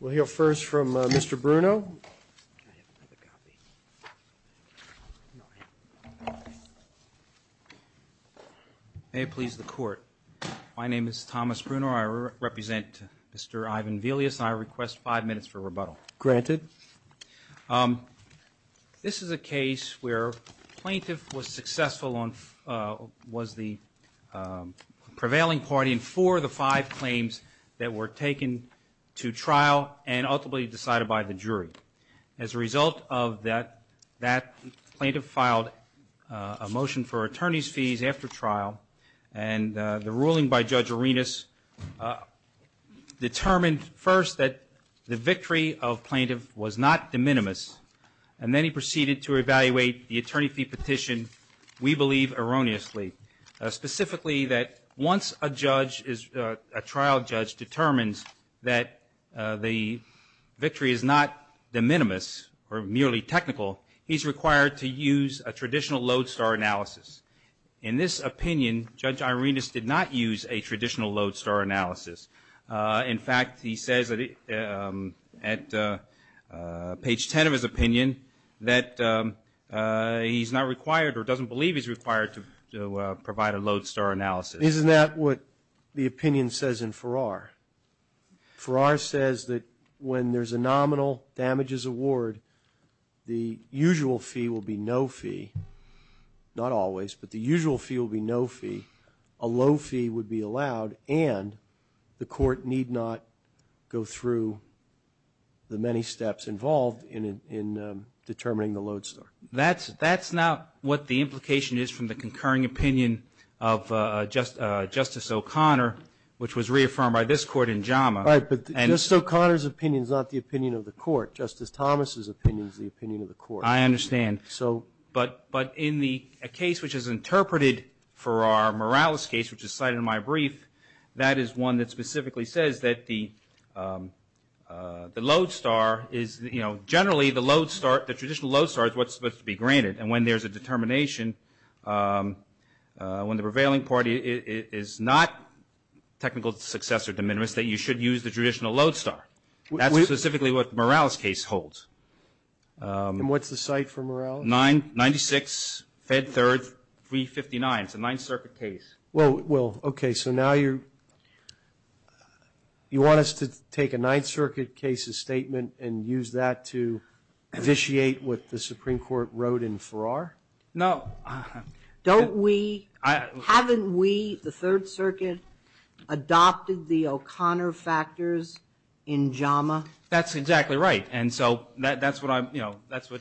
We'll hear first from Mr. Bruno. May it please the court. My name is Thomas Bruno. I represent Mr. Ivan Velius and I request five minutes for rebuttal. Granted. This is a case where plaintiff was successful on, was the prevailing party in four of the five claims that were taken to trial and ultimately decided by the jury. As a result of that, that plaintiff filed a motion for attorney's fees after trial. And the ruling by Judge Arenas determined first that the victory of plaintiff was not de minimis. And then he proceeded to evaluate the attorney fee petition, we believe erroneously. Specifically that once a judge is, a trial judge determines that the victory is not de minimis or merely technical, he's required to use a traditional lodestar analysis. In this opinion, Judge Arenas did not use a traditional lodestar analysis. In fact, he says at page 10 of his opinion that he's not required or doesn't believe he's required to provide a lodestar analysis. Isn't that what the opinion says in Farrar? Farrar says that when there's a nominal damages award, the usual fee will be no fee. Not always, but the usual fee will be no fee. A low fee would be allowed and the court need not go through the many steps involved in determining the lodestar. That's not what the implication is from the concurring opinion of Justice O'Connor, which was reaffirmed by this court in JAMA. Right, but Justice O'Connor's opinion is not the opinion of the court. Justice Thomas's opinion is the opinion of the court. I understand. But in the case which is interpreted for our Morales case, which is cited in my brief, that is one that specifically says that the lodestar is, you know, generally the lodestar, the traditional lodestar is what's supposed to be granted. And when there's a determination, when the prevailing party is not technical success or de minimis, that you should use the traditional lodestar. That's specifically what Morales' case holds. And what's the cite for Morales? Ninety-six, Fed Third, 359. It's a Ninth Circuit case. Well, okay, so now you want us to take a Ninth Circuit case's statement and use that to vitiate what the Supreme Court wrote in Farrar? No. Don't we? Haven't we, the Third Circuit, adopted the O'Connor factors in JAMA? That's exactly right. And so that's what I'm, you know, that's what,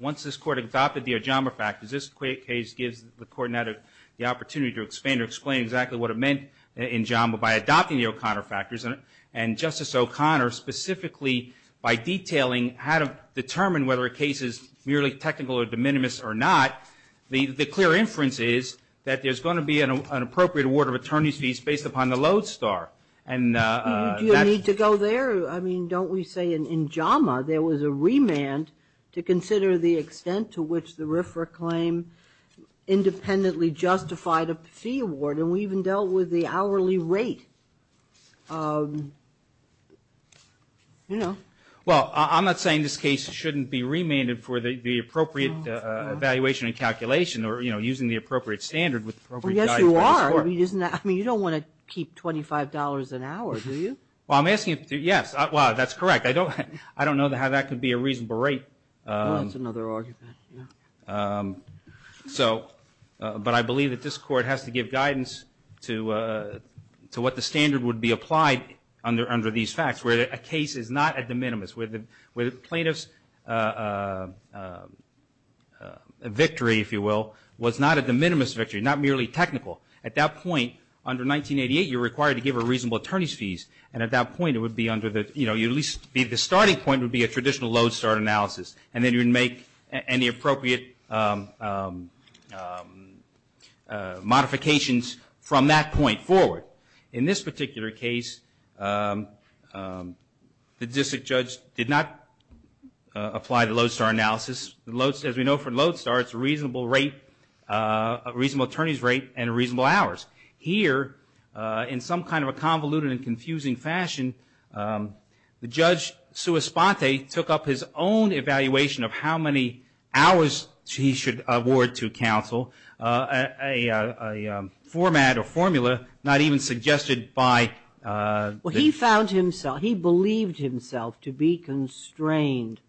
once this Court adopted the O'Connor factors, this case gives the Court now the opportunity to explain exactly what it meant in JAMA by adopting the O'Connor factors. And Justice O'Connor specifically by detailing how to determine whether a case is merely technical or de minimis or not, the clear inference is that there's going to be an appropriate award of attorney's fees based upon the lodestar. Do you need to go there? I mean, don't we say in JAMA there was a remand to consider the extent to which the RFRA claim independently justified a fee award? And we even dealt with the hourly rate, you know. Well, I'm not saying this case shouldn't be remanded for the appropriate evaluation and calculation or, you know, using the appropriate standard with appropriate guidance by the Court. Well, yes, you are. I mean, you don't want to keep $25 an hour, do you? Well, I'm asking if, yes, well, that's correct. I don't know how that could be a reasonable rate. Well, that's another argument, yeah. So, but I believe that this Court has to give guidance to what the standard would be applied under these facts, where a case is not a de minimis, where the plaintiff's victory, if you will, was not a de minimis victory, not merely technical. At that point, under 1988, you're required to give a reasonable attorney's fees, and at that point it would be under the, you know, at least the starting point would be a traditional lodestar analysis, and then you would make any appropriate modifications from that point forward. In this particular case, the district judge did not apply the lodestar analysis. As we know from lodestar, it's a reasonable rate, a reasonable attorney's rate and reasonable hours. Here, in some kind of a convoluted and confusing fashion, the judge sua sponte took up his own evaluation of how many hours he should award to counsel, a format or formula not even suggested by the ---- He found himself, he believed himself to be constrained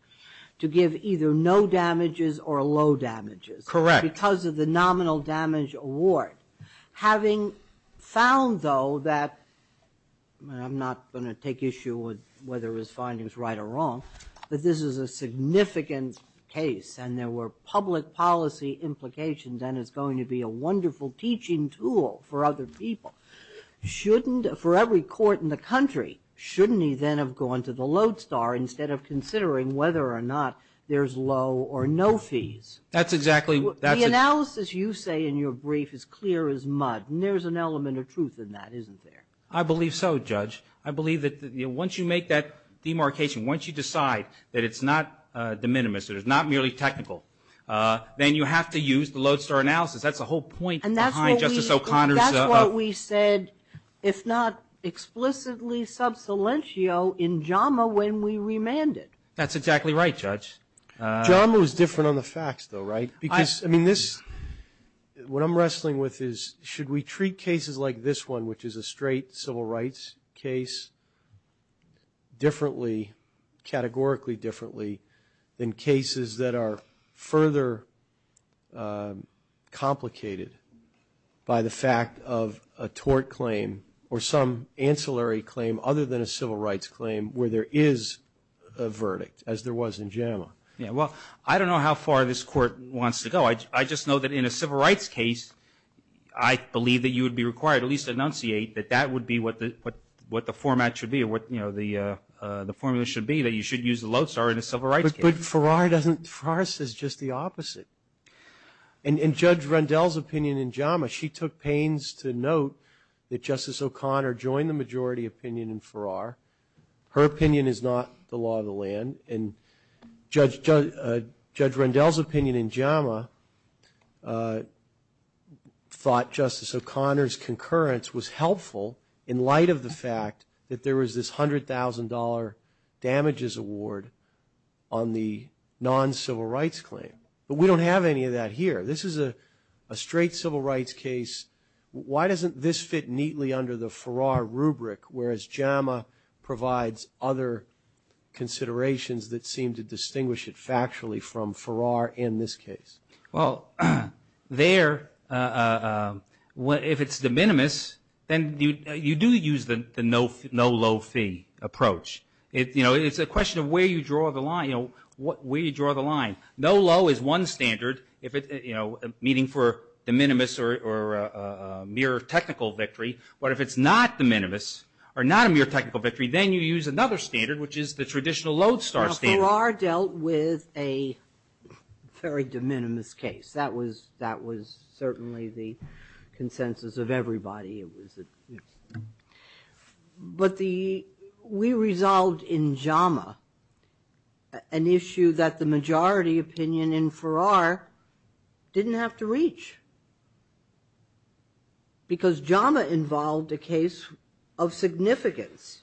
to give either no damages or low damages. Correct. Because of the nominal damage award. Having found, though, that I'm not going to take issue with whether his finding is right or wrong, that this is a significant case and there were public policy implications and it's going to be a wonderful teaching tool for other people. Shouldn't, for every court in the country, shouldn't he then have gone to the lodestar instead of considering whether or not there's low or no fees? That's exactly. The analysis you say in your brief is clear as mud, and there's an element of truth in that, isn't there? I believe so, Judge. I believe that once you make that demarcation, once you decide that it's not de minimis, that it's not merely technical, then you have to use the lodestar analysis. That's the whole point behind Justice O'Connor's ---- He said, if not explicitly sub silentio, in JAMA, when we remanded. That's exactly right, Judge. JAMA was different on the facts, though, right? Because, I mean, this, what I'm wrestling with is, should we treat cases like this one, which is a straight civil rights case, differently, categorically differently, than cases that are further complicated by the fact of a tort claim or some ancillary claim, other than a civil rights claim, where there is a verdict, as there was in JAMA? Yeah, well, I don't know how far this court wants to go. I just know that in a civil rights case, I believe that you would be required, at least to enunciate, that that would be what the format should be, that you should use the lodestar in a civil rights case. But Farrar doesn't, Farrar says just the opposite. And Judge Rendell's opinion in JAMA, she took pains to note that Justice O'Connor joined the majority opinion in Farrar. Her opinion is not the law of the land. And Judge Rendell's opinion in JAMA thought Justice O'Connor's concurrence was helpful, in light of the fact that there was this $100,000 damages award on the non-civil rights claim. But we don't have any of that here. This is a straight civil rights case. Why doesn't this fit neatly under the Farrar rubric, whereas JAMA provides other considerations that seem to distinguish it factually from Farrar in this case? Well, there, if it's de minimis, then you do use the no low fee approach. It's a question of where you draw the line. No low is one standard, meaning for de minimis or mere technical victory. But if it's not de minimis or not a mere technical victory, then you use another standard, which is the traditional lodestar standard. Farrar dealt with a very de minimis case. That was certainly the consensus of everybody. But we resolved in JAMA an issue that the majority opinion in Farrar didn't have to reach, because JAMA involved a case of significance.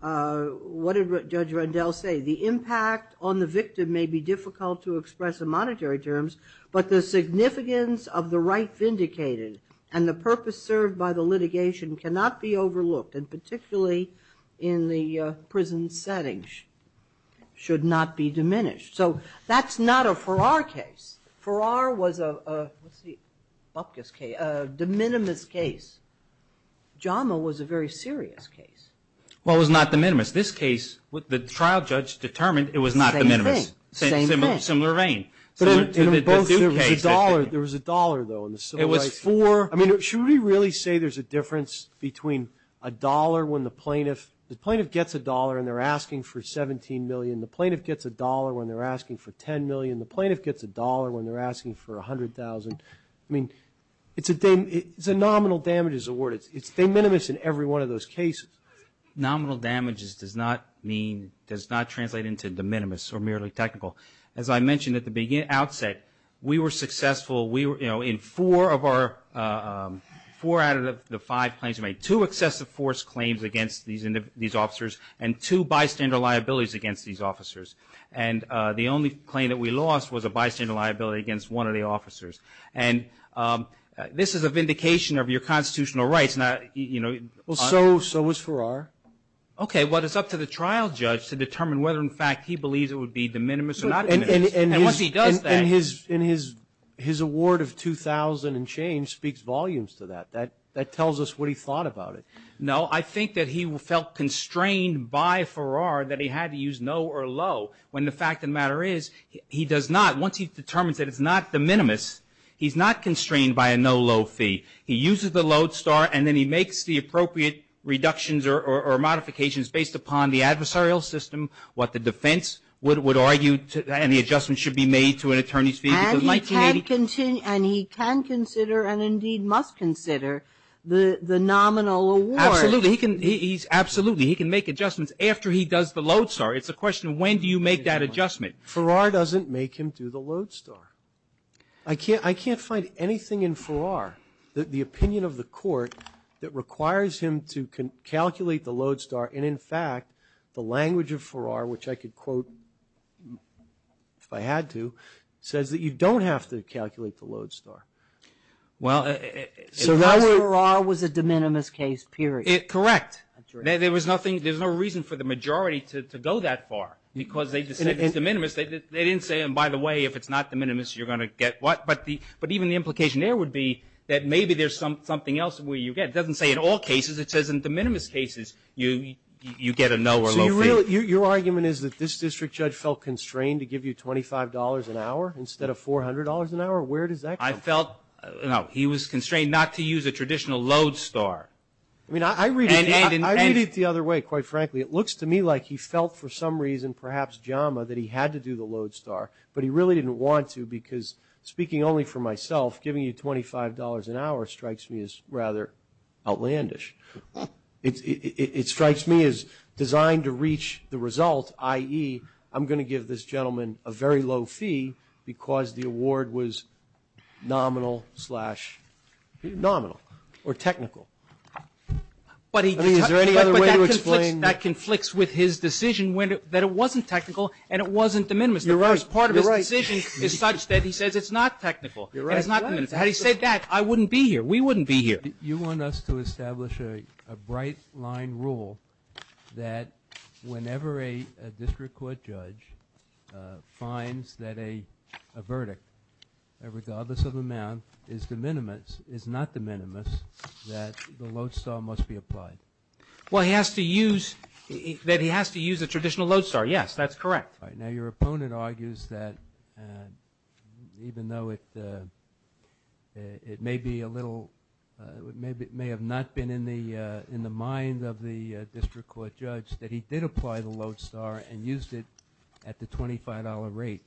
What did Judge Rendell say? The impact on the victim may be difficult to express in monetary terms, but the significance of the right vindicated and the purpose served by the litigation cannot be overlooked, and particularly in the prison setting should not be diminished. So that's not a Farrar case. Farrar was a de minimis case. JAMA was a very serious case. Well, it was not de minimis. This case, the trial judge determined it was not de minimis. Same thing. Same thing. Similar vein. There was a dollar, though, in the civil rights case. It was four. I mean, should we really say there's a difference between a dollar when the plaintiff gets a dollar and they're asking for $17 million, the plaintiff gets a dollar when they're asking for $10 million, the plaintiff gets a dollar when they're asking for $100,000? I mean, it's a nominal damages award. It's de minimis in every one of those cases. Nominal damages does not mean, does not translate into de minimis or merely technical. As I mentioned at the outset, we were successful. We were, you know, in four out of the five claims we made, two excessive force claims against these officers and two bystander liabilities against these officers. And the only claim that we lost was a bystander liability against one of the officers. And this is a vindication of your constitutional rights. Well, so was Farrar. Okay, well, it's up to the trial judge to determine whether, in fact, he believes it would be de minimis or not de minimis. And once he does that. And his award of $2,000 and change speaks volumes to that. That tells us what he thought about it. No, I think that he felt constrained by Farrar that he had to use no or low. When the fact of the matter is, he does not. Once he determines that it's not de minimis, he's not constrained by a no low fee. He uses the load star and then he makes the appropriate reductions or modifications based upon the adversarial system, what the defense would argue, And he can consider and indeed must consider the nominal award. Absolutely. He can make adjustments after he does the load star. It's a question of when do you make that adjustment. Farrar doesn't make him do the load star. I can't find anything in Farrar, the opinion of the court, that requires him to calculate the load star. And, in fact, the language of Farrar, which I could quote, if I had to, says that you don't have to calculate the load star. So Farrar was a de minimis case, period. Correct. There was no reason for the majority to go that far because they said it's de minimis. They didn't say, and by the way, if it's not de minimis, you're going to get what. But even the implication there would be that maybe there's something else where you get. It doesn't say in all cases. It says in de minimis cases you get a no or low fee. Your argument is that this district judge felt constrained to give you $25 an hour instead of $400 an hour? Where does that come from? I felt, no, he was constrained not to use a traditional load star. I mean, I read it the other way, quite frankly. It looks to me like he felt for some reason, perhaps jama, that he had to do the load star, but he really didn't want to because, speaking only for myself, giving you $25 an hour strikes me as rather outlandish. It strikes me as designed to reach the result, i.e., I'm going to give this gentleman a very low fee because the award was nominal slash, nominal or technical. Is there any other way to explain? But that conflicts with his decision that it wasn't technical and it wasn't de minimis. You're right. The first part of his decision is such that he says it's not technical and it's not de minimis. Had he said that, I wouldn't be here. We wouldn't be here. You want us to establish a bright line rule that whenever a district court judge finds that a verdict, regardless of amount, is de minimis, is not de minimis, that the load star must be applied. Well, he has to use, that he has to use a traditional load star. Yes, that's correct. Now, your opponent argues that even though it may be a little, it may have not been in the mind of the district court judge, that he did apply the load star and used it at the $25 rate.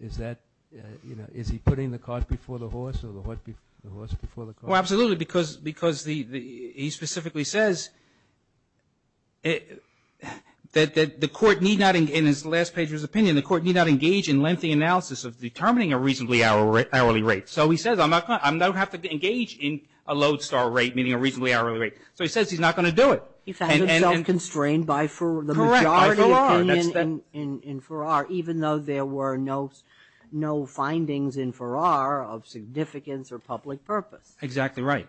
Is that, you know, is he putting the cart before the horse or the horse before the cart? Well, absolutely, because he specifically says that the court need not, in his last page of his opinion, the court need not engage in lengthy analysis of determining a reasonably hourly rate. So he says, I'm not going to have to engage in a load star rate, meaning a reasonably hourly rate. So he says he's not going to do it. He found himself constrained by the majority opinion in Farrar, even though there were no findings in Farrar of significance or public purpose. Exactly right.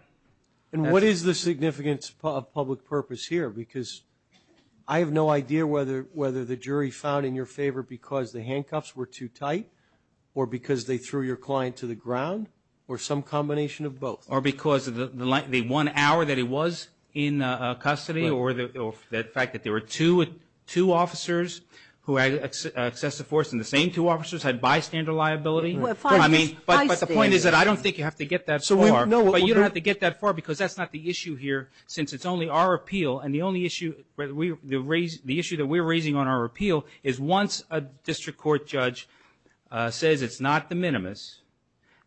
And what is the significance of public purpose here? Because I have no idea whether the jury found in your favor because the handcuffs were too tight or because they threw your client to the ground or some combination of both. Or because of the one hour that he was in custody or the fact that there were two officers who accessed the force and the same two officers had bystander liability. But the point is that I don't think you have to get that far. But you don't have to get that far because that's not the issue here since it's only our appeal. And the issue that we're raising on our appeal is once a district court judge says it's not the minimus,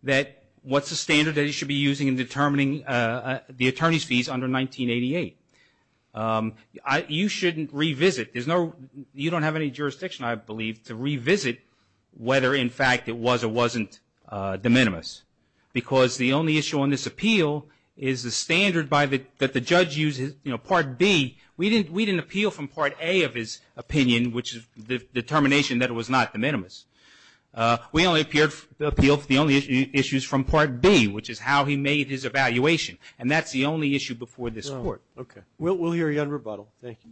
that what's the standard that he should be using in determining the attorney's fees under 1988? You shouldn't revisit. You don't have any jurisdiction, I believe, to revisit whether, in fact, it was or wasn't the minimus. Because the only issue on this appeal is the standard that the judge uses. Part B, we didn't appeal from Part A of his opinion, which is the determination that it was not the minimus. We only appealed for the only issues from Part B, which is how he made his evaluation. And that's the only issue before this court. Okay. We'll hear you on rebuttal. Thank you.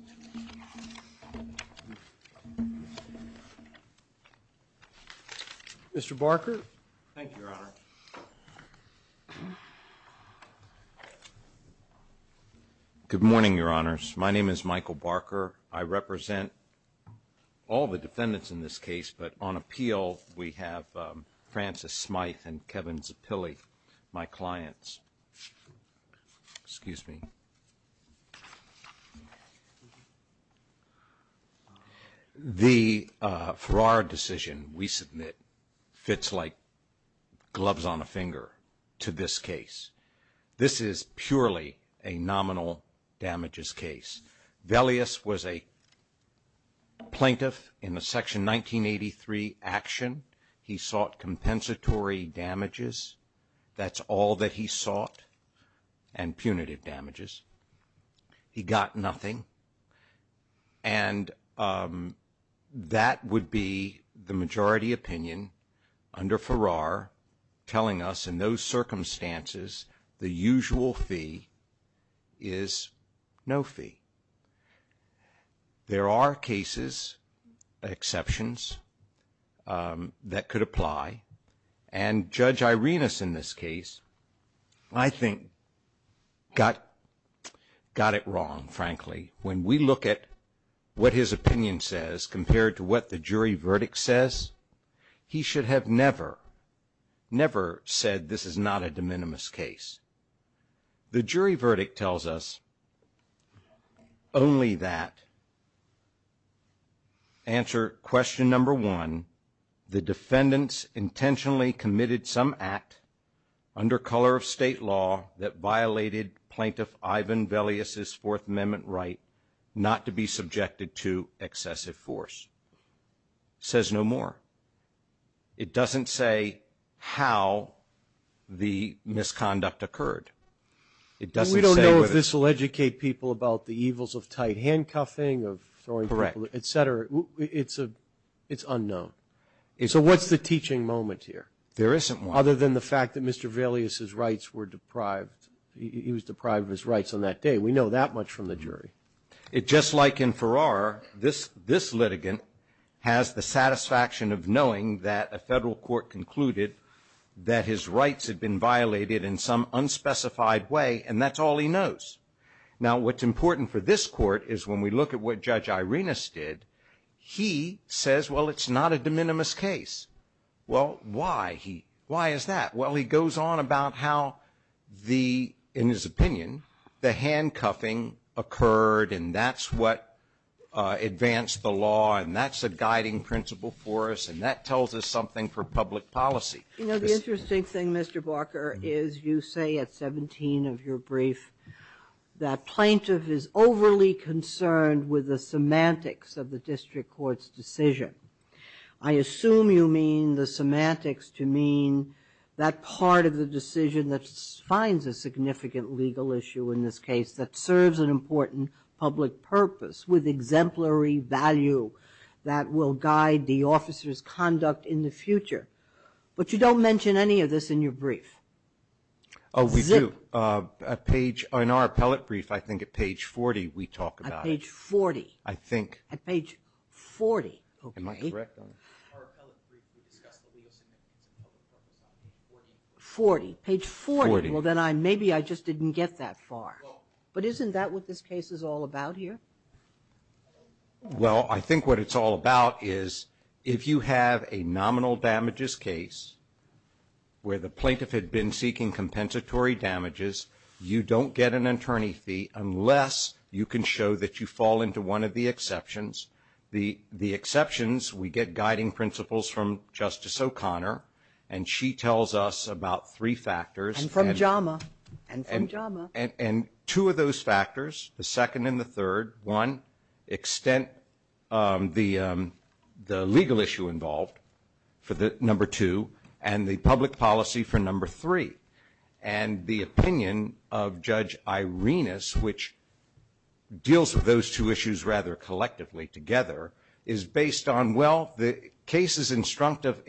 Mr. Barker. Thank you, Your Honor. Good morning, Your Honors. My name is Michael Barker. I represent all the defendants in this case, but on appeal, we have Francis Smyth and Kevin Zappilli, my clients. Excuse me. The Farrar decision we submit fits like gloves on a finger to this case. This is purely a nominal damages case. Velias was a plaintiff in the Section 1983 action. He sought compensatory damages. That's all that he sought, and punitive damages. He got nothing. And that would be the majority opinion under Farrar telling us, in those circumstances, the usual fee is no fee. There are cases, exceptions, that could apply. And Judge Irenas in this case, I think, got it wrong, frankly. When we look at what his opinion says compared to what the jury verdict says, he should have never, never said this is not a de minimis case. The jury verdict tells us only that, answer question number one, the defendants intentionally committed some act under color of state law that violated plaintiff Ivan Velias' Fourth Amendment right not to be subjected to excessive force. Says no more. It doesn't say how the misconduct occurred. We don't know if this will educate people about the evils of tight handcuffing, of throwing people, et cetera. It's unknown. So what's the teaching moment here? There isn't one. Other than the fact that Mr. Velias' rights were deprived. He was deprived of his rights on that day. We know that much from the jury. Just like in Farrar, this litigant has the satisfaction of knowing that a federal court concluded that his rights had been violated in some unspecified way, and that's all he knows. Now, what's important for this court is when we look at what Judge Irenas did, he says, well, it's not a de minimis case. Well, why? Why is that? Well, he goes on about how the, in his opinion, the handcuffing occurred, and that's what advanced the law, and that's a guiding principle for us, and that tells us something for public policy. You know, the interesting thing, Mr. Barker, is you say at 17 of your brief that plaintiff is overly concerned with the semantics of the district court's decision. I assume you mean the semantics to mean that part of the decision that finds a significant legal issue in this case that serves an important public purpose with exemplary value that will guide the officer's conduct in the future. But you don't mention any of this in your brief. Oh, we do. In our appellate brief, I think at page 40, we talk about it. At page 40. I think. At page 40. Okay. Am I correct on that? Our appellate brief, we discuss the legal significance of public purpose on page 40. 40. Page 40. 40. Well, then maybe I just didn't get that far. Well. But isn't that what this case is all about here? Well, I think what it's all about is if you have a nominal damages case where the plaintiff had been seeking compensatory damages, you don't get an attorney fee unless you can show that you fall into one of the exceptions. The exceptions, we get guiding principles from Justice O'Connor, and she tells us about three factors. And from JAMA. And from JAMA. And two of those factors, the second and the third, one, extent the legal issue involved for the number two, and the public policy for number three. And the opinion of Judge Irenas, which deals with those two issues rather collectively together, is based on, well, the case is instructive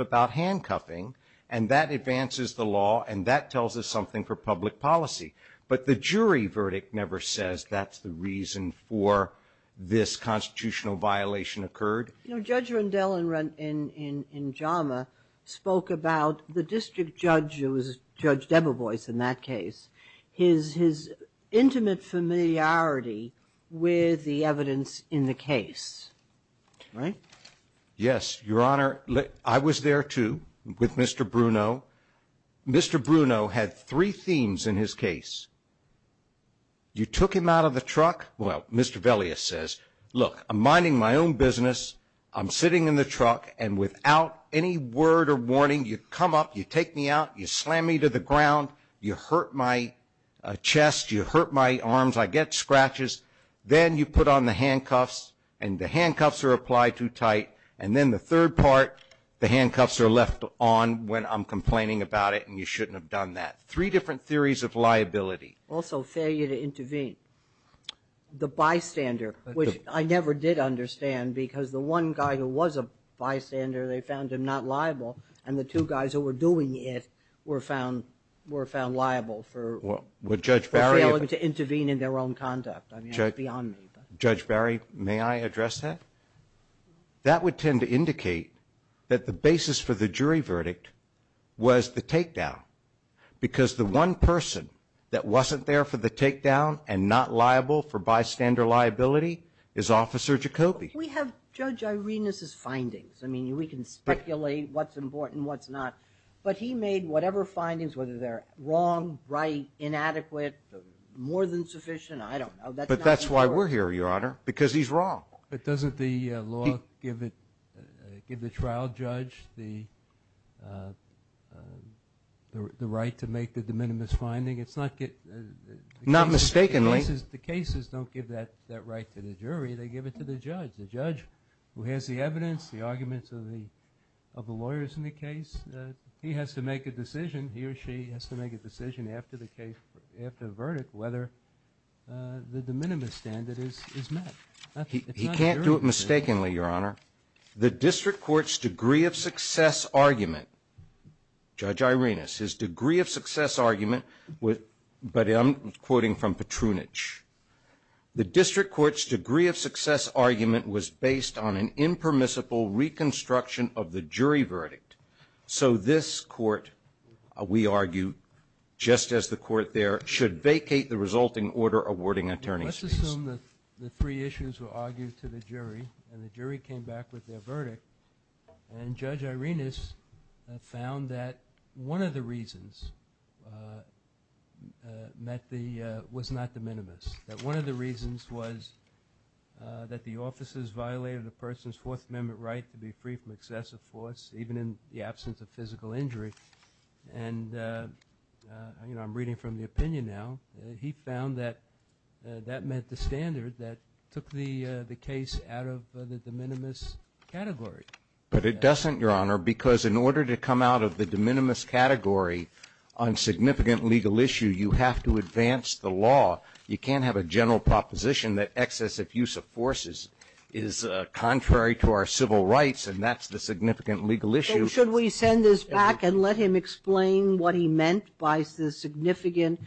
about handcuffing, and that advances the law, and that tells us something for public policy. But the jury verdict never says that's the reason for this constitutional violation occurred. You know, Judge Rendell in JAMA spoke about the district judge who was Judge Debevoise in that case, his intimate familiarity with the evidence in the case. Right? Yes, Your Honor. I was there, too, with Mr. Bruno. Mr. Bruno had three themes in his case. You took him out of the truck. Well, Mr. Velias says, look, I'm minding my own business, I'm sitting in the truck, and without any word or warning, you come up, you take me out, you slam me to the ground, you hurt my chest, you hurt my arms, I get scratches. Then you put on the handcuffs, and the handcuffs are applied too tight. And then the third part, the handcuffs are left on when I'm complaining about it, and you shouldn't have done that. Three different theories of liability. Also, failure to intervene. The bystander, which I never did understand because the one guy who was a bystander, they found him not liable, and the two guys who were doing it were found liable for failing to intervene in their own conduct. I mean, that's beyond me. Judge Barry, may I address that? That would tend to indicate that the basis for the jury verdict was the takedown because the one person that wasn't there for the takedown and not liable for bystander liability is Officer Jacoby. We have Judge Irena's findings. I mean, we can speculate what's important and what's not, but he made whatever findings, whether they're wrong, right, inadequate, more than sufficient, I don't know. But that's why we're here, Your Honor, because he's wrong. But doesn't the law give the trial judge the right to make the de minimis finding? Not mistakenly. The cases don't give that right to the jury. They give it to the judge, the judge who has the evidence, the arguments of the lawyers in the case. He has to make a decision, he or she has to make a decision after the verdict whether the de minimis standard is met. He can't do it mistakenly, Your Honor. The district court's degree of success argument, Judge Irena, his degree of success argument, but I'm quoting from Petrunich, the district court's degree of success argument was based on an impermissible reconstruction of the jury verdict. So this court, we argue, just as the court there, should vacate the resulting order awarding attorneys. Let's assume that the three issues were argued to the jury and the jury came back with their verdict and Judge Irena found that one of the reasons was not de minimis, that one of the reasons was that the officers violated the person's Fourth Amendment right to be free from excessive force, even in the absence of physical injury. And I'm reading from the opinion now. He found that that meant the standard that took the case out of the de minimis category. But it doesn't, Your Honor, because in order to come out of the de minimis category on significant legal issue, you have to advance the law. You can't have a general proposition that excessive use of forces is contrary to our civil rights, and that's the significant legal issue. Sotomayor, should we send this back and let him explain what he meant by the significant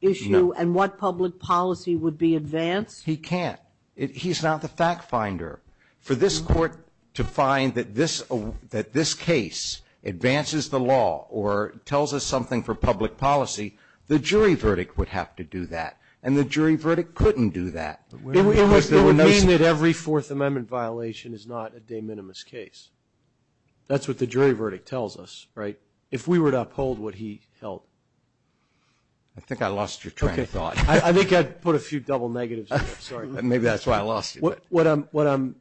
issue and what public policy would be advanced? He can't. He's not the fact finder. For this court to find that this case advances the law or tells us something for public policy, the jury verdict would have to do that. And the jury verdict couldn't do that. It would mean that every Fourth Amendment violation is not a de minimis case. That's what the jury verdict tells us, right? If we were to uphold what he held. I think I lost your train of thought. I think I put a few double negatives there. Sorry. Maybe that's why I lost you. What I'm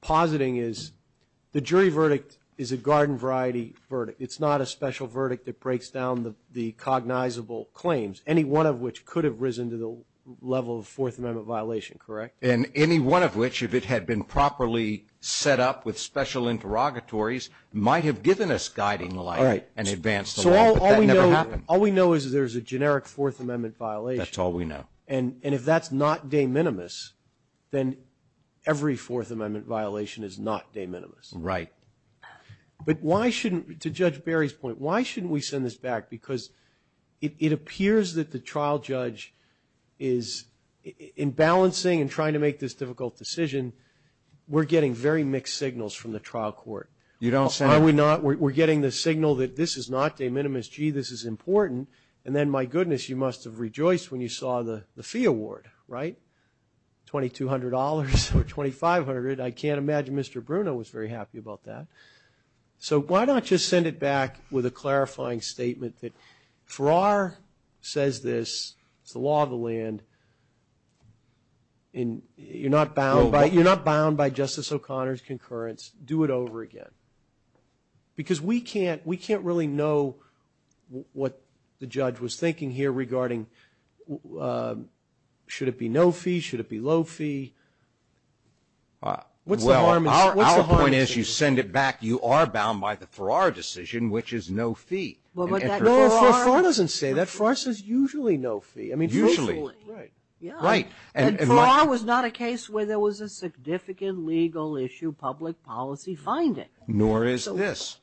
positing is the jury verdict is a garden variety verdict. It's not a special verdict that breaks down the cognizable claims, any one of which could have risen to the level of Fourth Amendment violation, correct? And any one of which, if it had been properly set up with special interrogatories, might have given us guiding light and advanced the law. But that never happened. All we know is there's a generic Fourth Amendment violation. That's all we know. And if that's not de minimis, then every Fourth Amendment violation is not de minimis. Right. But why shouldn't, to Judge Barry's point, why shouldn't we send this back? Because it appears that the trial judge is, in balancing and trying to make this difficult decision, we're getting very mixed signals from the trial court. Are we not? We're getting the signal that this is not de minimis. Gee, this is important. And then, my goodness, you must have rejoiced when you saw the fee award, right? $2,200 or $2,500. I can't imagine Mr. Bruno was very happy about that. So why not just send it back with a clarifying statement that Farrar says this. It's the law of the land. You're not bound by Justice O'Connor's concurrence. Do it over again. Because we can't really know what the judge was thinking here regarding should it be no fee, should it be low fee. Well, our point is you send it back, you are bound by the Farrar decision, which is no fee. No, Farrar doesn't say that. Farrar says usually no fee. Usually. Right. And Farrar was not a case where there was a significant legal issue, public policy finding. Nor is this.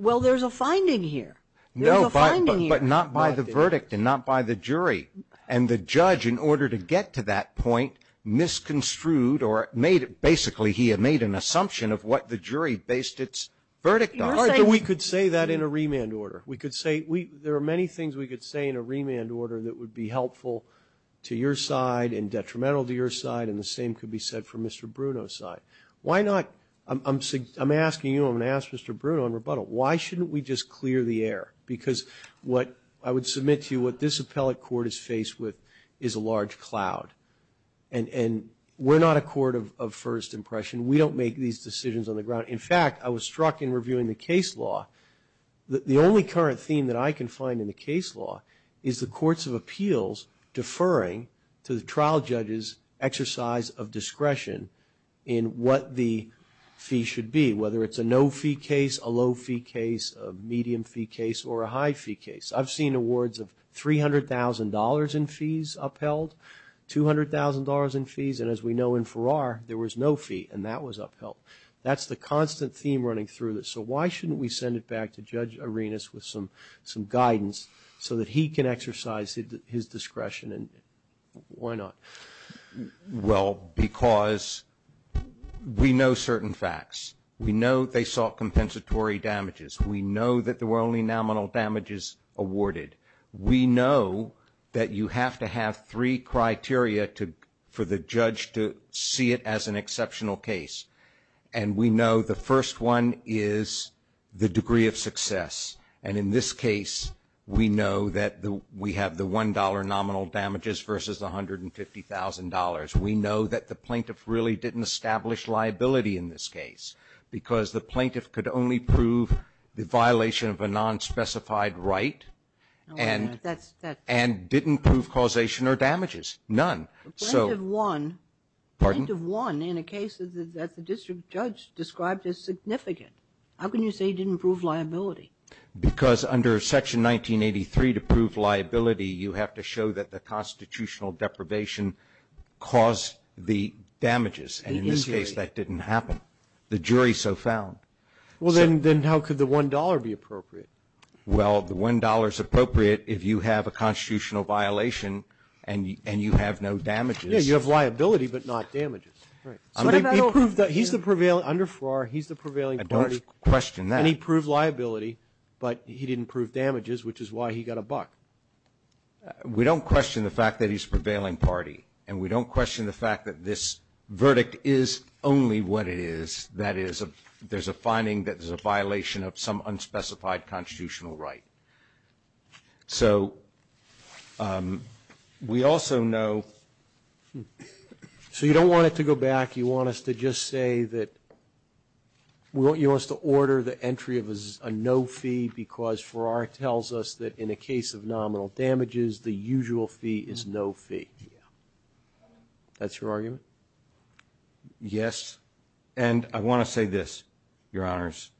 Well, there's a finding here. No, but not by the verdict and not by the jury. And the judge, in order to get to that point, misconstrued or basically he had made an assumption of what the jury based its verdict on. We could say that in a remand order. We could say there are many things we could say in a remand order that would be helpful to your side and detrimental to your side, and the same could be said for Mr. Bruno's side. Why not, I'm asking you, I'm going to ask Mr. Bruno in rebuttal, why shouldn't we just clear the air? Because what I would submit to you, what this appellate court is faced with is a large cloud. And we're not a court of first impression. We don't make these decisions on the ground. In fact, I was struck in reviewing the case law that the only current theme that I can find in the case law is the courts of appeals deferring to the trial judge's exercise of discretion in what the fee should be, whether it's a no-fee case, a low-fee case, a medium-fee case, or a high-fee case. I've seen awards of $300,000 in fees upheld, $200,000 in fees, and as we know in Farrar, there was no fee, and that was upheld. That's the constant theme running through this. So why shouldn't we send it back to Judge Arenas with some guidance so that he can exercise his discretion, and why not? Well, because we know certain facts. We know they sought compensatory damages. We know that there were only nominal damages awarded. We know that you have to have three criteria for the judge to see it as an exceptional case. And we know the first one is the degree of success. And in this case, we know that we have the $1 nominal damages versus $150,000. We know that the plaintiff really didn't establish liability in this case because the plaintiff could only prove the violation of a nonspecified right and didn't prove causation or damages, none. Plaintiff won in a case that the district judge described as significant. How can you say he didn't prove liability? Because under Section 1983, to prove liability, you have to show that the constitutional deprivation caused the damages, and in this case, that didn't happen. The jury so found. Well, then how could the $1 be appropriate? Well, the $1 is appropriate if you have a constitutional violation and you have no damages. Yes, you have liability, but not damages. Right. Under Farrar, he's the prevailing party. I don't question that. And he proved liability, but he didn't prove damages, which is why he got a buck. We don't question the fact that he's the prevailing party. And we don't question the fact that this verdict is only what it is. That is, there's a finding that there's a violation of some unspecified constitutional right. So we also know so you don't want it to go back. You want us to just say that you want us to order the entry of a no fee because Farrar tells us that in a case of nominal damages, the usual fee is no fee. That's your argument? Yes. And I want to say this, Your Honors.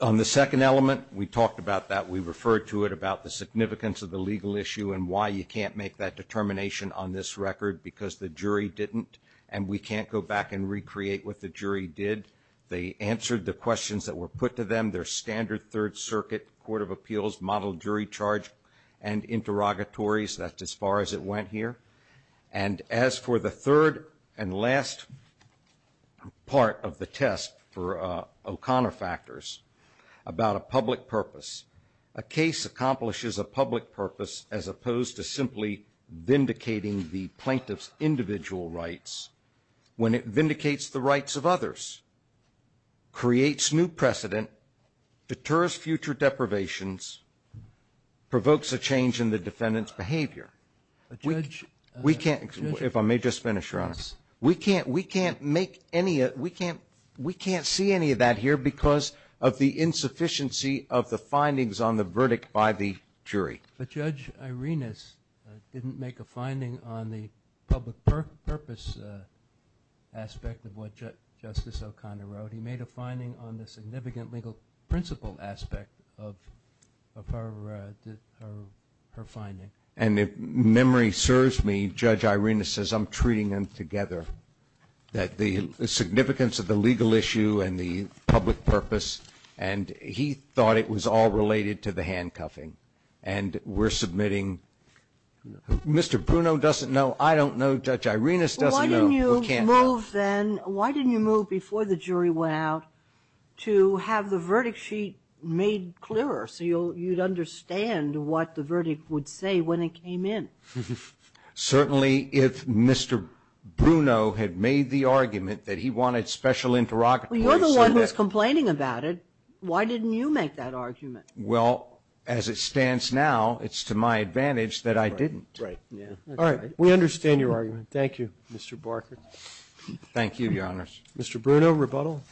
On the second element, we talked about that. We referred to it about the significance of the legal issue and why you can't make that what the jury did. They answered the questions that were put to them, their standard Third Circuit Court of Appeals model jury charge and interrogatories. That's as far as it went here. And as for the third and last part of the test for O'Connor factors about a public purpose, a case accomplishes a public purpose as opposed to simply vindicating the plaintiff's individual rights when it vindicates the rights of others, creates new precedent, deters future deprivations, provokes a change in the defendant's behavior. We can't, if I may just finish, Your Honors. We can't make any, we can't see any of that here because of the insufficiency of the findings on the verdict by the jury. But Judge Irenas didn't make a finding on the public purpose aspect of what Justice O'Connor wrote. He made a finding on the significant legal principle aspect of her finding. And if memory serves me, Judge Irenas says I'm treating them together, that the significance of the legal issue and the public purpose, and he thought it was all related to the handcuffing. And we're submitting, Mr. Bruno doesn't know. I don't know. Judge Irenas doesn't know. We can't help. Why didn't you move then, why didn't you move before the jury went out to have the verdict sheet made clearer so you'd understand what the verdict would say when it came in? Certainly if Mr. Bruno had made the argument that he wanted special interrogatory You're the one who's complaining about it. Why didn't you make that argument? Well, as it stands now, it's to my advantage that I didn't. Right. All right. We understand your argument. Thank you, Mr. Barker. Thank you, Your Honors. Mr. Bruno, rebuttal.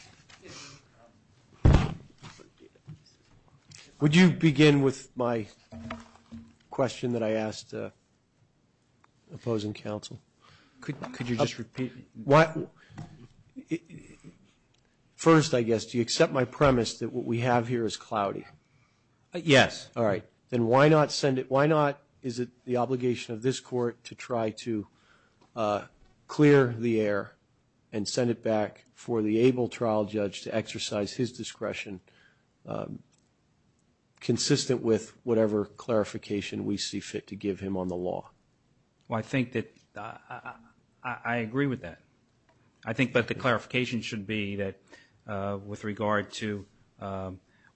Would you begin with my question that I asked opposing counsel? Could you just repeat? First, I guess, do you accept my premise that what we have here is cloudy? Yes. All right. Then why not send it? Why not is it the obligation of this court to try to clear the air and send it back for the able trial judge to exercise his discretion, consistent with whatever clarification we see fit to give him on the law? Well, I think that I agree with that. I think that the clarification should be that with regard to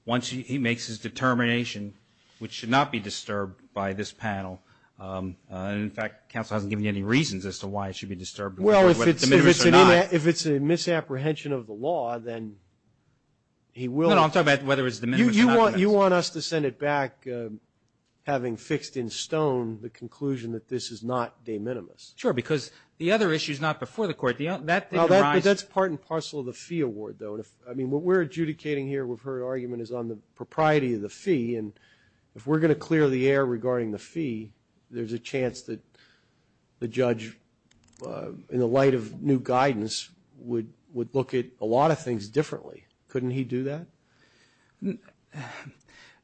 once he makes his determination, which should not be disturbed by this panel, and in fact counsel hasn't given you any reasons as to why it should be disturbed. Well, if it's a misapprehension of the law, then he will. No, no, I'm talking about whether it's diminished or not diminished. You want us to send it back having fixed in stone the conclusion that this is not de minimis? Sure, because the other issue is not before the court. That's part and parcel of the fee award, though. I mean, what we're adjudicating here with her argument is on the propriety of the fee, and if we're going to clear the air regarding the fee, there's a chance that the judge, in the light of new guidance, would look at a lot of things differently. Couldn't he do that?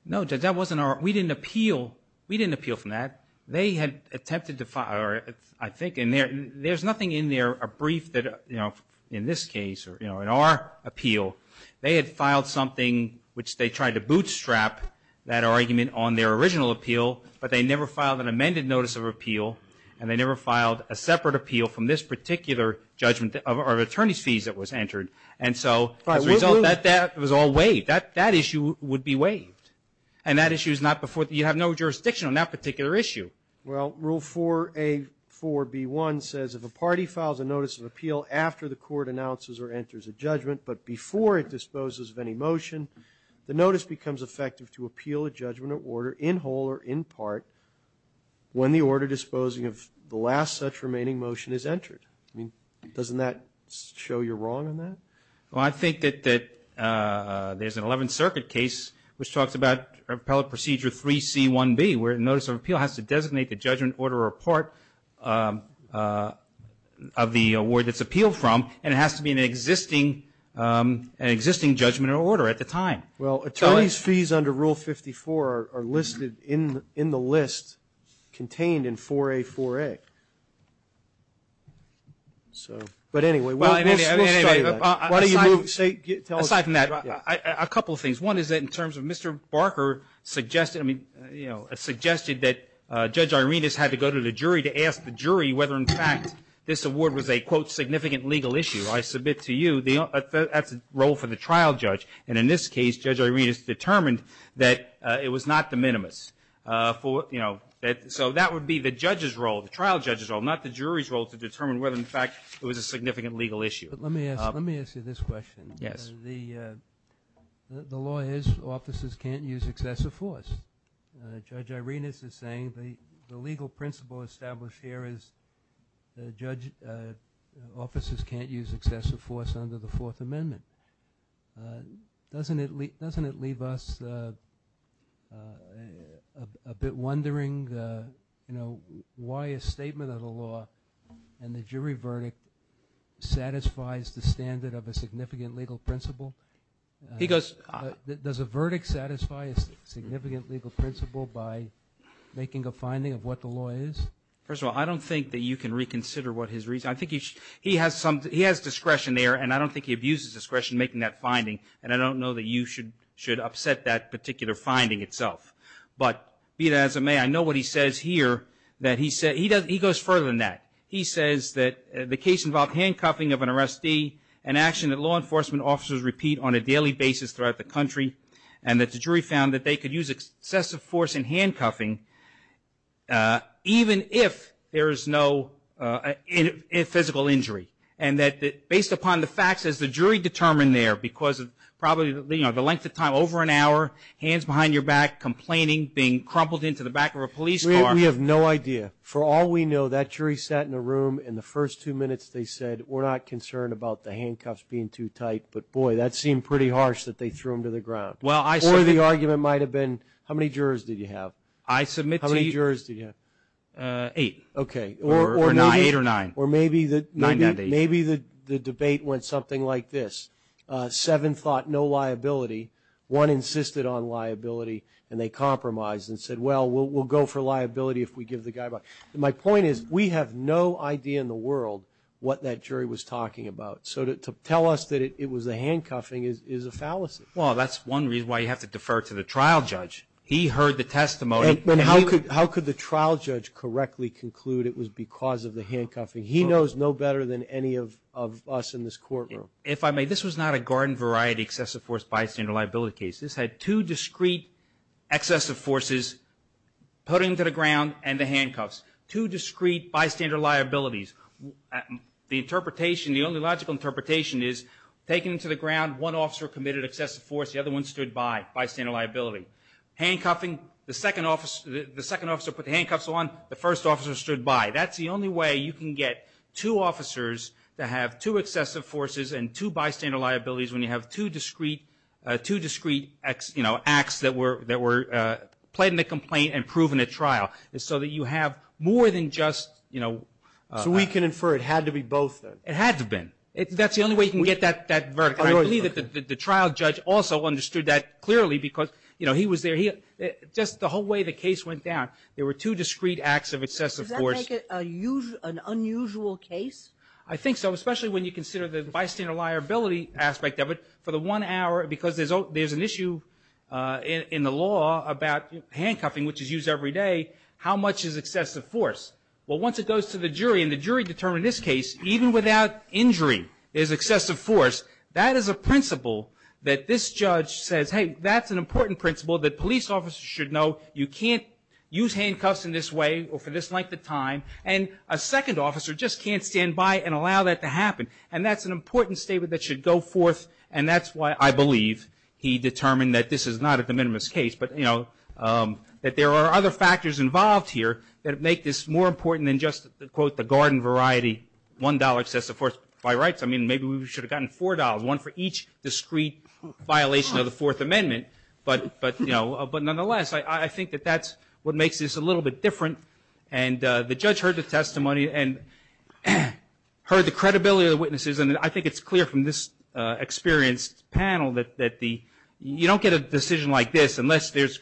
No, Judge, that wasn't our we didn't appeal. We didn't appeal from that. They had attempted to file, I think, and there's nothing in there, a brief that, you know, in this case or, you know, in our appeal, they had filed something which they tried to bootstrap that argument on their original appeal, but they never filed an amended notice of appeal, and they never filed a separate appeal from this particular judgment of our attorney's fees that was entered. And so as a result, that was all waived. That issue would be waived. And that issue is not before you have no jurisdiction on that particular issue. Well, Rule 4A4B1 says, if a party files a notice of appeal after the court announces or enters a judgment but before it disposes of any motion, the notice becomes effective to appeal a judgment or order in whole or in part when the order disposing of the last such remaining motion is entered. I mean, doesn't that show you're wrong on that? Well, I think that there's an Eleventh Circuit case which talks about appellate procedure 3C1B where a notice of appeal has to designate the judgment, order, or part of the award that's appealed from, and it has to be an existing judgment or order at the time. Well, attorney's fees under Rule 54 are listed in the list contained in 4A4A. But anyway, we'll start with that. Aside from that, a couple of things. One is that in terms of Mr. Barker suggested that Judge Irenas had to go to the jury to ask the jury whether in fact this award was a, quote, significant legal issue. I submit to you that's a role for the trial judge. And in this case, Judge Irenas determined that it was not the minimus. So that would be the judge's role, the trial judge's role, not the jury's role to determine whether in fact it was a significant legal issue. But let me ask you this question. Yes. The law is officers can't use excessive force. Judge Irenas is saying the legal principle established here is officers can't use excessive force under the Fourth Amendment. Doesn't it leave us a bit wondering, you know, why a statement of the law and the jury verdict satisfies the standard of a significant legal principle? Does a verdict satisfy a significant legal principle by making a finding of what the law is? First of all, I don't think that you can reconsider what his reason. I think he has discretion there, and I don't think he abuses discretion making that finding, and I don't know that you should upset that particular finding itself. But be that as it may, I know what he says here. He goes further than that. He says that the case involved handcuffing of an arrestee, an action that law enforcement officers repeat on a daily basis throughout the country, and that the jury found that they could use excessive force in handcuffing even if there is no physical injury, and that based upon the facts, as the jury determined there because of probably, you know, the length of time, over an hour, hands behind your back, complaining, being crumpled into the back of a police car. We have no idea. For all we know, that jury sat in a room, and the first two minutes they said, we're not concerned about the handcuffs being too tight, but, boy, that seemed pretty harsh that they threw him to the ground. Or the argument might have been, how many jurors did you have? I submit to you. How many jurors did you have? Eight. Okay. Or nine. Eight or nine. Or maybe the debate went something like this. Seven thought no liability. One insisted on liability, and they compromised and said, well, we'll go for liability if we give the guy back. My point is we have no idea in the world what that jury was talking about. So to tell us that it was a handcuffing is a fallacy. Well, that's one reason why you have to defer to the trial judge. He heard the testimony. How could the trial judge correctly conclude it was because of the handcuffing? He knows no better than any of us in this courtroom. If I may, this was not a garden variety excessive force bystander liability case. This had two discrete excessive forces put into the ground and the handcuffs, two discrete bystander liabilities. The interpretation, the only logical interpretation is taken to the ground, one officer committed excessive force, the other one stood by, bystander liability. Handcuffing, the second officer put the handcuffs on, the first officer stood by. That's the only way you can get two officers to have two excessive forces and two bystander liabilities when you have two discrete acts that were played in the complaint and proven at trial is so that you have more than just, you know. So we can infer it had to be both then? It had to have been. That's the only way you can get that verdict. I believe that the trial judge also understood that clearly because, you know, he was there. Just the whole way the case went down, there were two discrete acts of excessive force. Does that make it an unusual case? I think so, especially when you consider the bystander liability aspect of it. For the one hour, because there's an issue in the law about handcuffing, which is used every day, how much is excessive force? Well, once it goes to the jury and the jury determined this case, even without injury, there's excessive force, that is a principle that this judge says, hey, that's an important principle that police officers should know. You can't use handcuffs in this way or for this length of time, and a second officer just can't stand by and allow that to happen. And that's an important statement that should go forth, and that's why I believe he determined that this is not a de minimis case, but, you know, that there are other factors involved here that make this more important than just, quote, the garden variety, $1 excessive force by rights. I mean, maybe we should have gotten $4, one for each discrete violation of the Fourth Amendment. But, you know, but nonetheless, I think that that's what makes this a little bit different. And the judge heard the testimony and heard the credibility of the witnesses, and I think it's clear from this experienced panel that you don't get a decision like this that is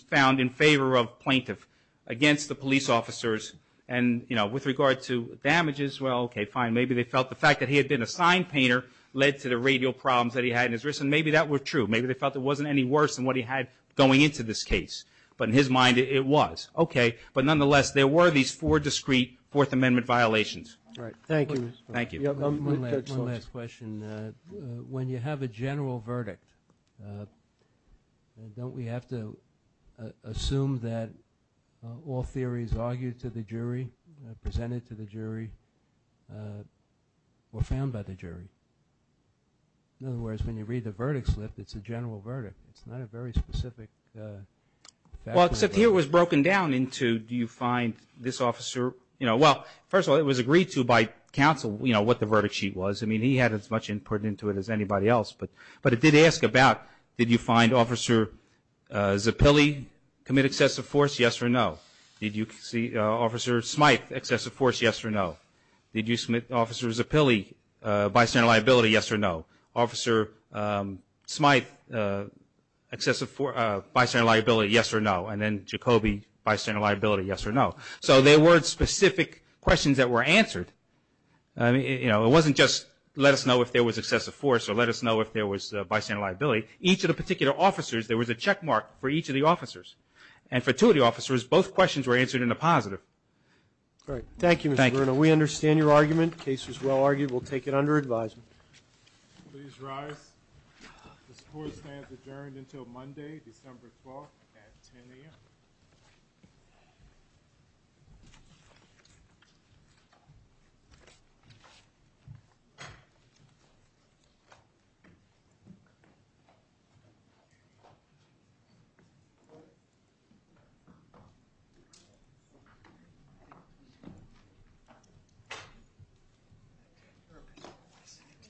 found in favor of plaintiff against the police officers. And, you know, with regard to damages, well, okay, fine, maybe they felt the fact that he had been a sign painter led to the radial problems that he had in his wrist, and maybe that were true. Maybe they felt it wasn't any worse than what he had going into this case. But in his mind, it was. Okay, but nonetheless, there were these four discrete Fourth Amendment violations. All right. Thank you. Thank you. One last question. When you have a general verdict, don't we have to assume that all theories argued to the jury, presented to the jury, were found by the jury? In other words, when you read the verdict slip, it's a general verdict. It's not a very specific fact. Well, except here it was broken down into do you find this officer, you know, well, first of all, it was agreed to by counsel, you know, what the verdict sheet was. I mean, he had as much input into it as anybody else. But it did ask about did you find Officer Zappilli commit excessive force, yes or no? Did you see Officer Smythe excessive force, yes or no? Did you submit Officer Zappilli bystander liability, yes or no? Officer Smythe bystander liability, yes or no? And then Jacoby bystander liability, yes or no? So there weren't specific questions that were answered. You know, it wasn't just let us know if there was excessive force or let us know if there was bystander liability. Each of the particular officers, there was a checkmark for each of the officers. And for two of the officers, both questions were answered in a positive. All right. Thank you, Mr. Bruno. We understand your argument. The case was well argued. We'll take it under advisement. Please rise. The score stands adjourned until Monday, December 12th at 10 a.m.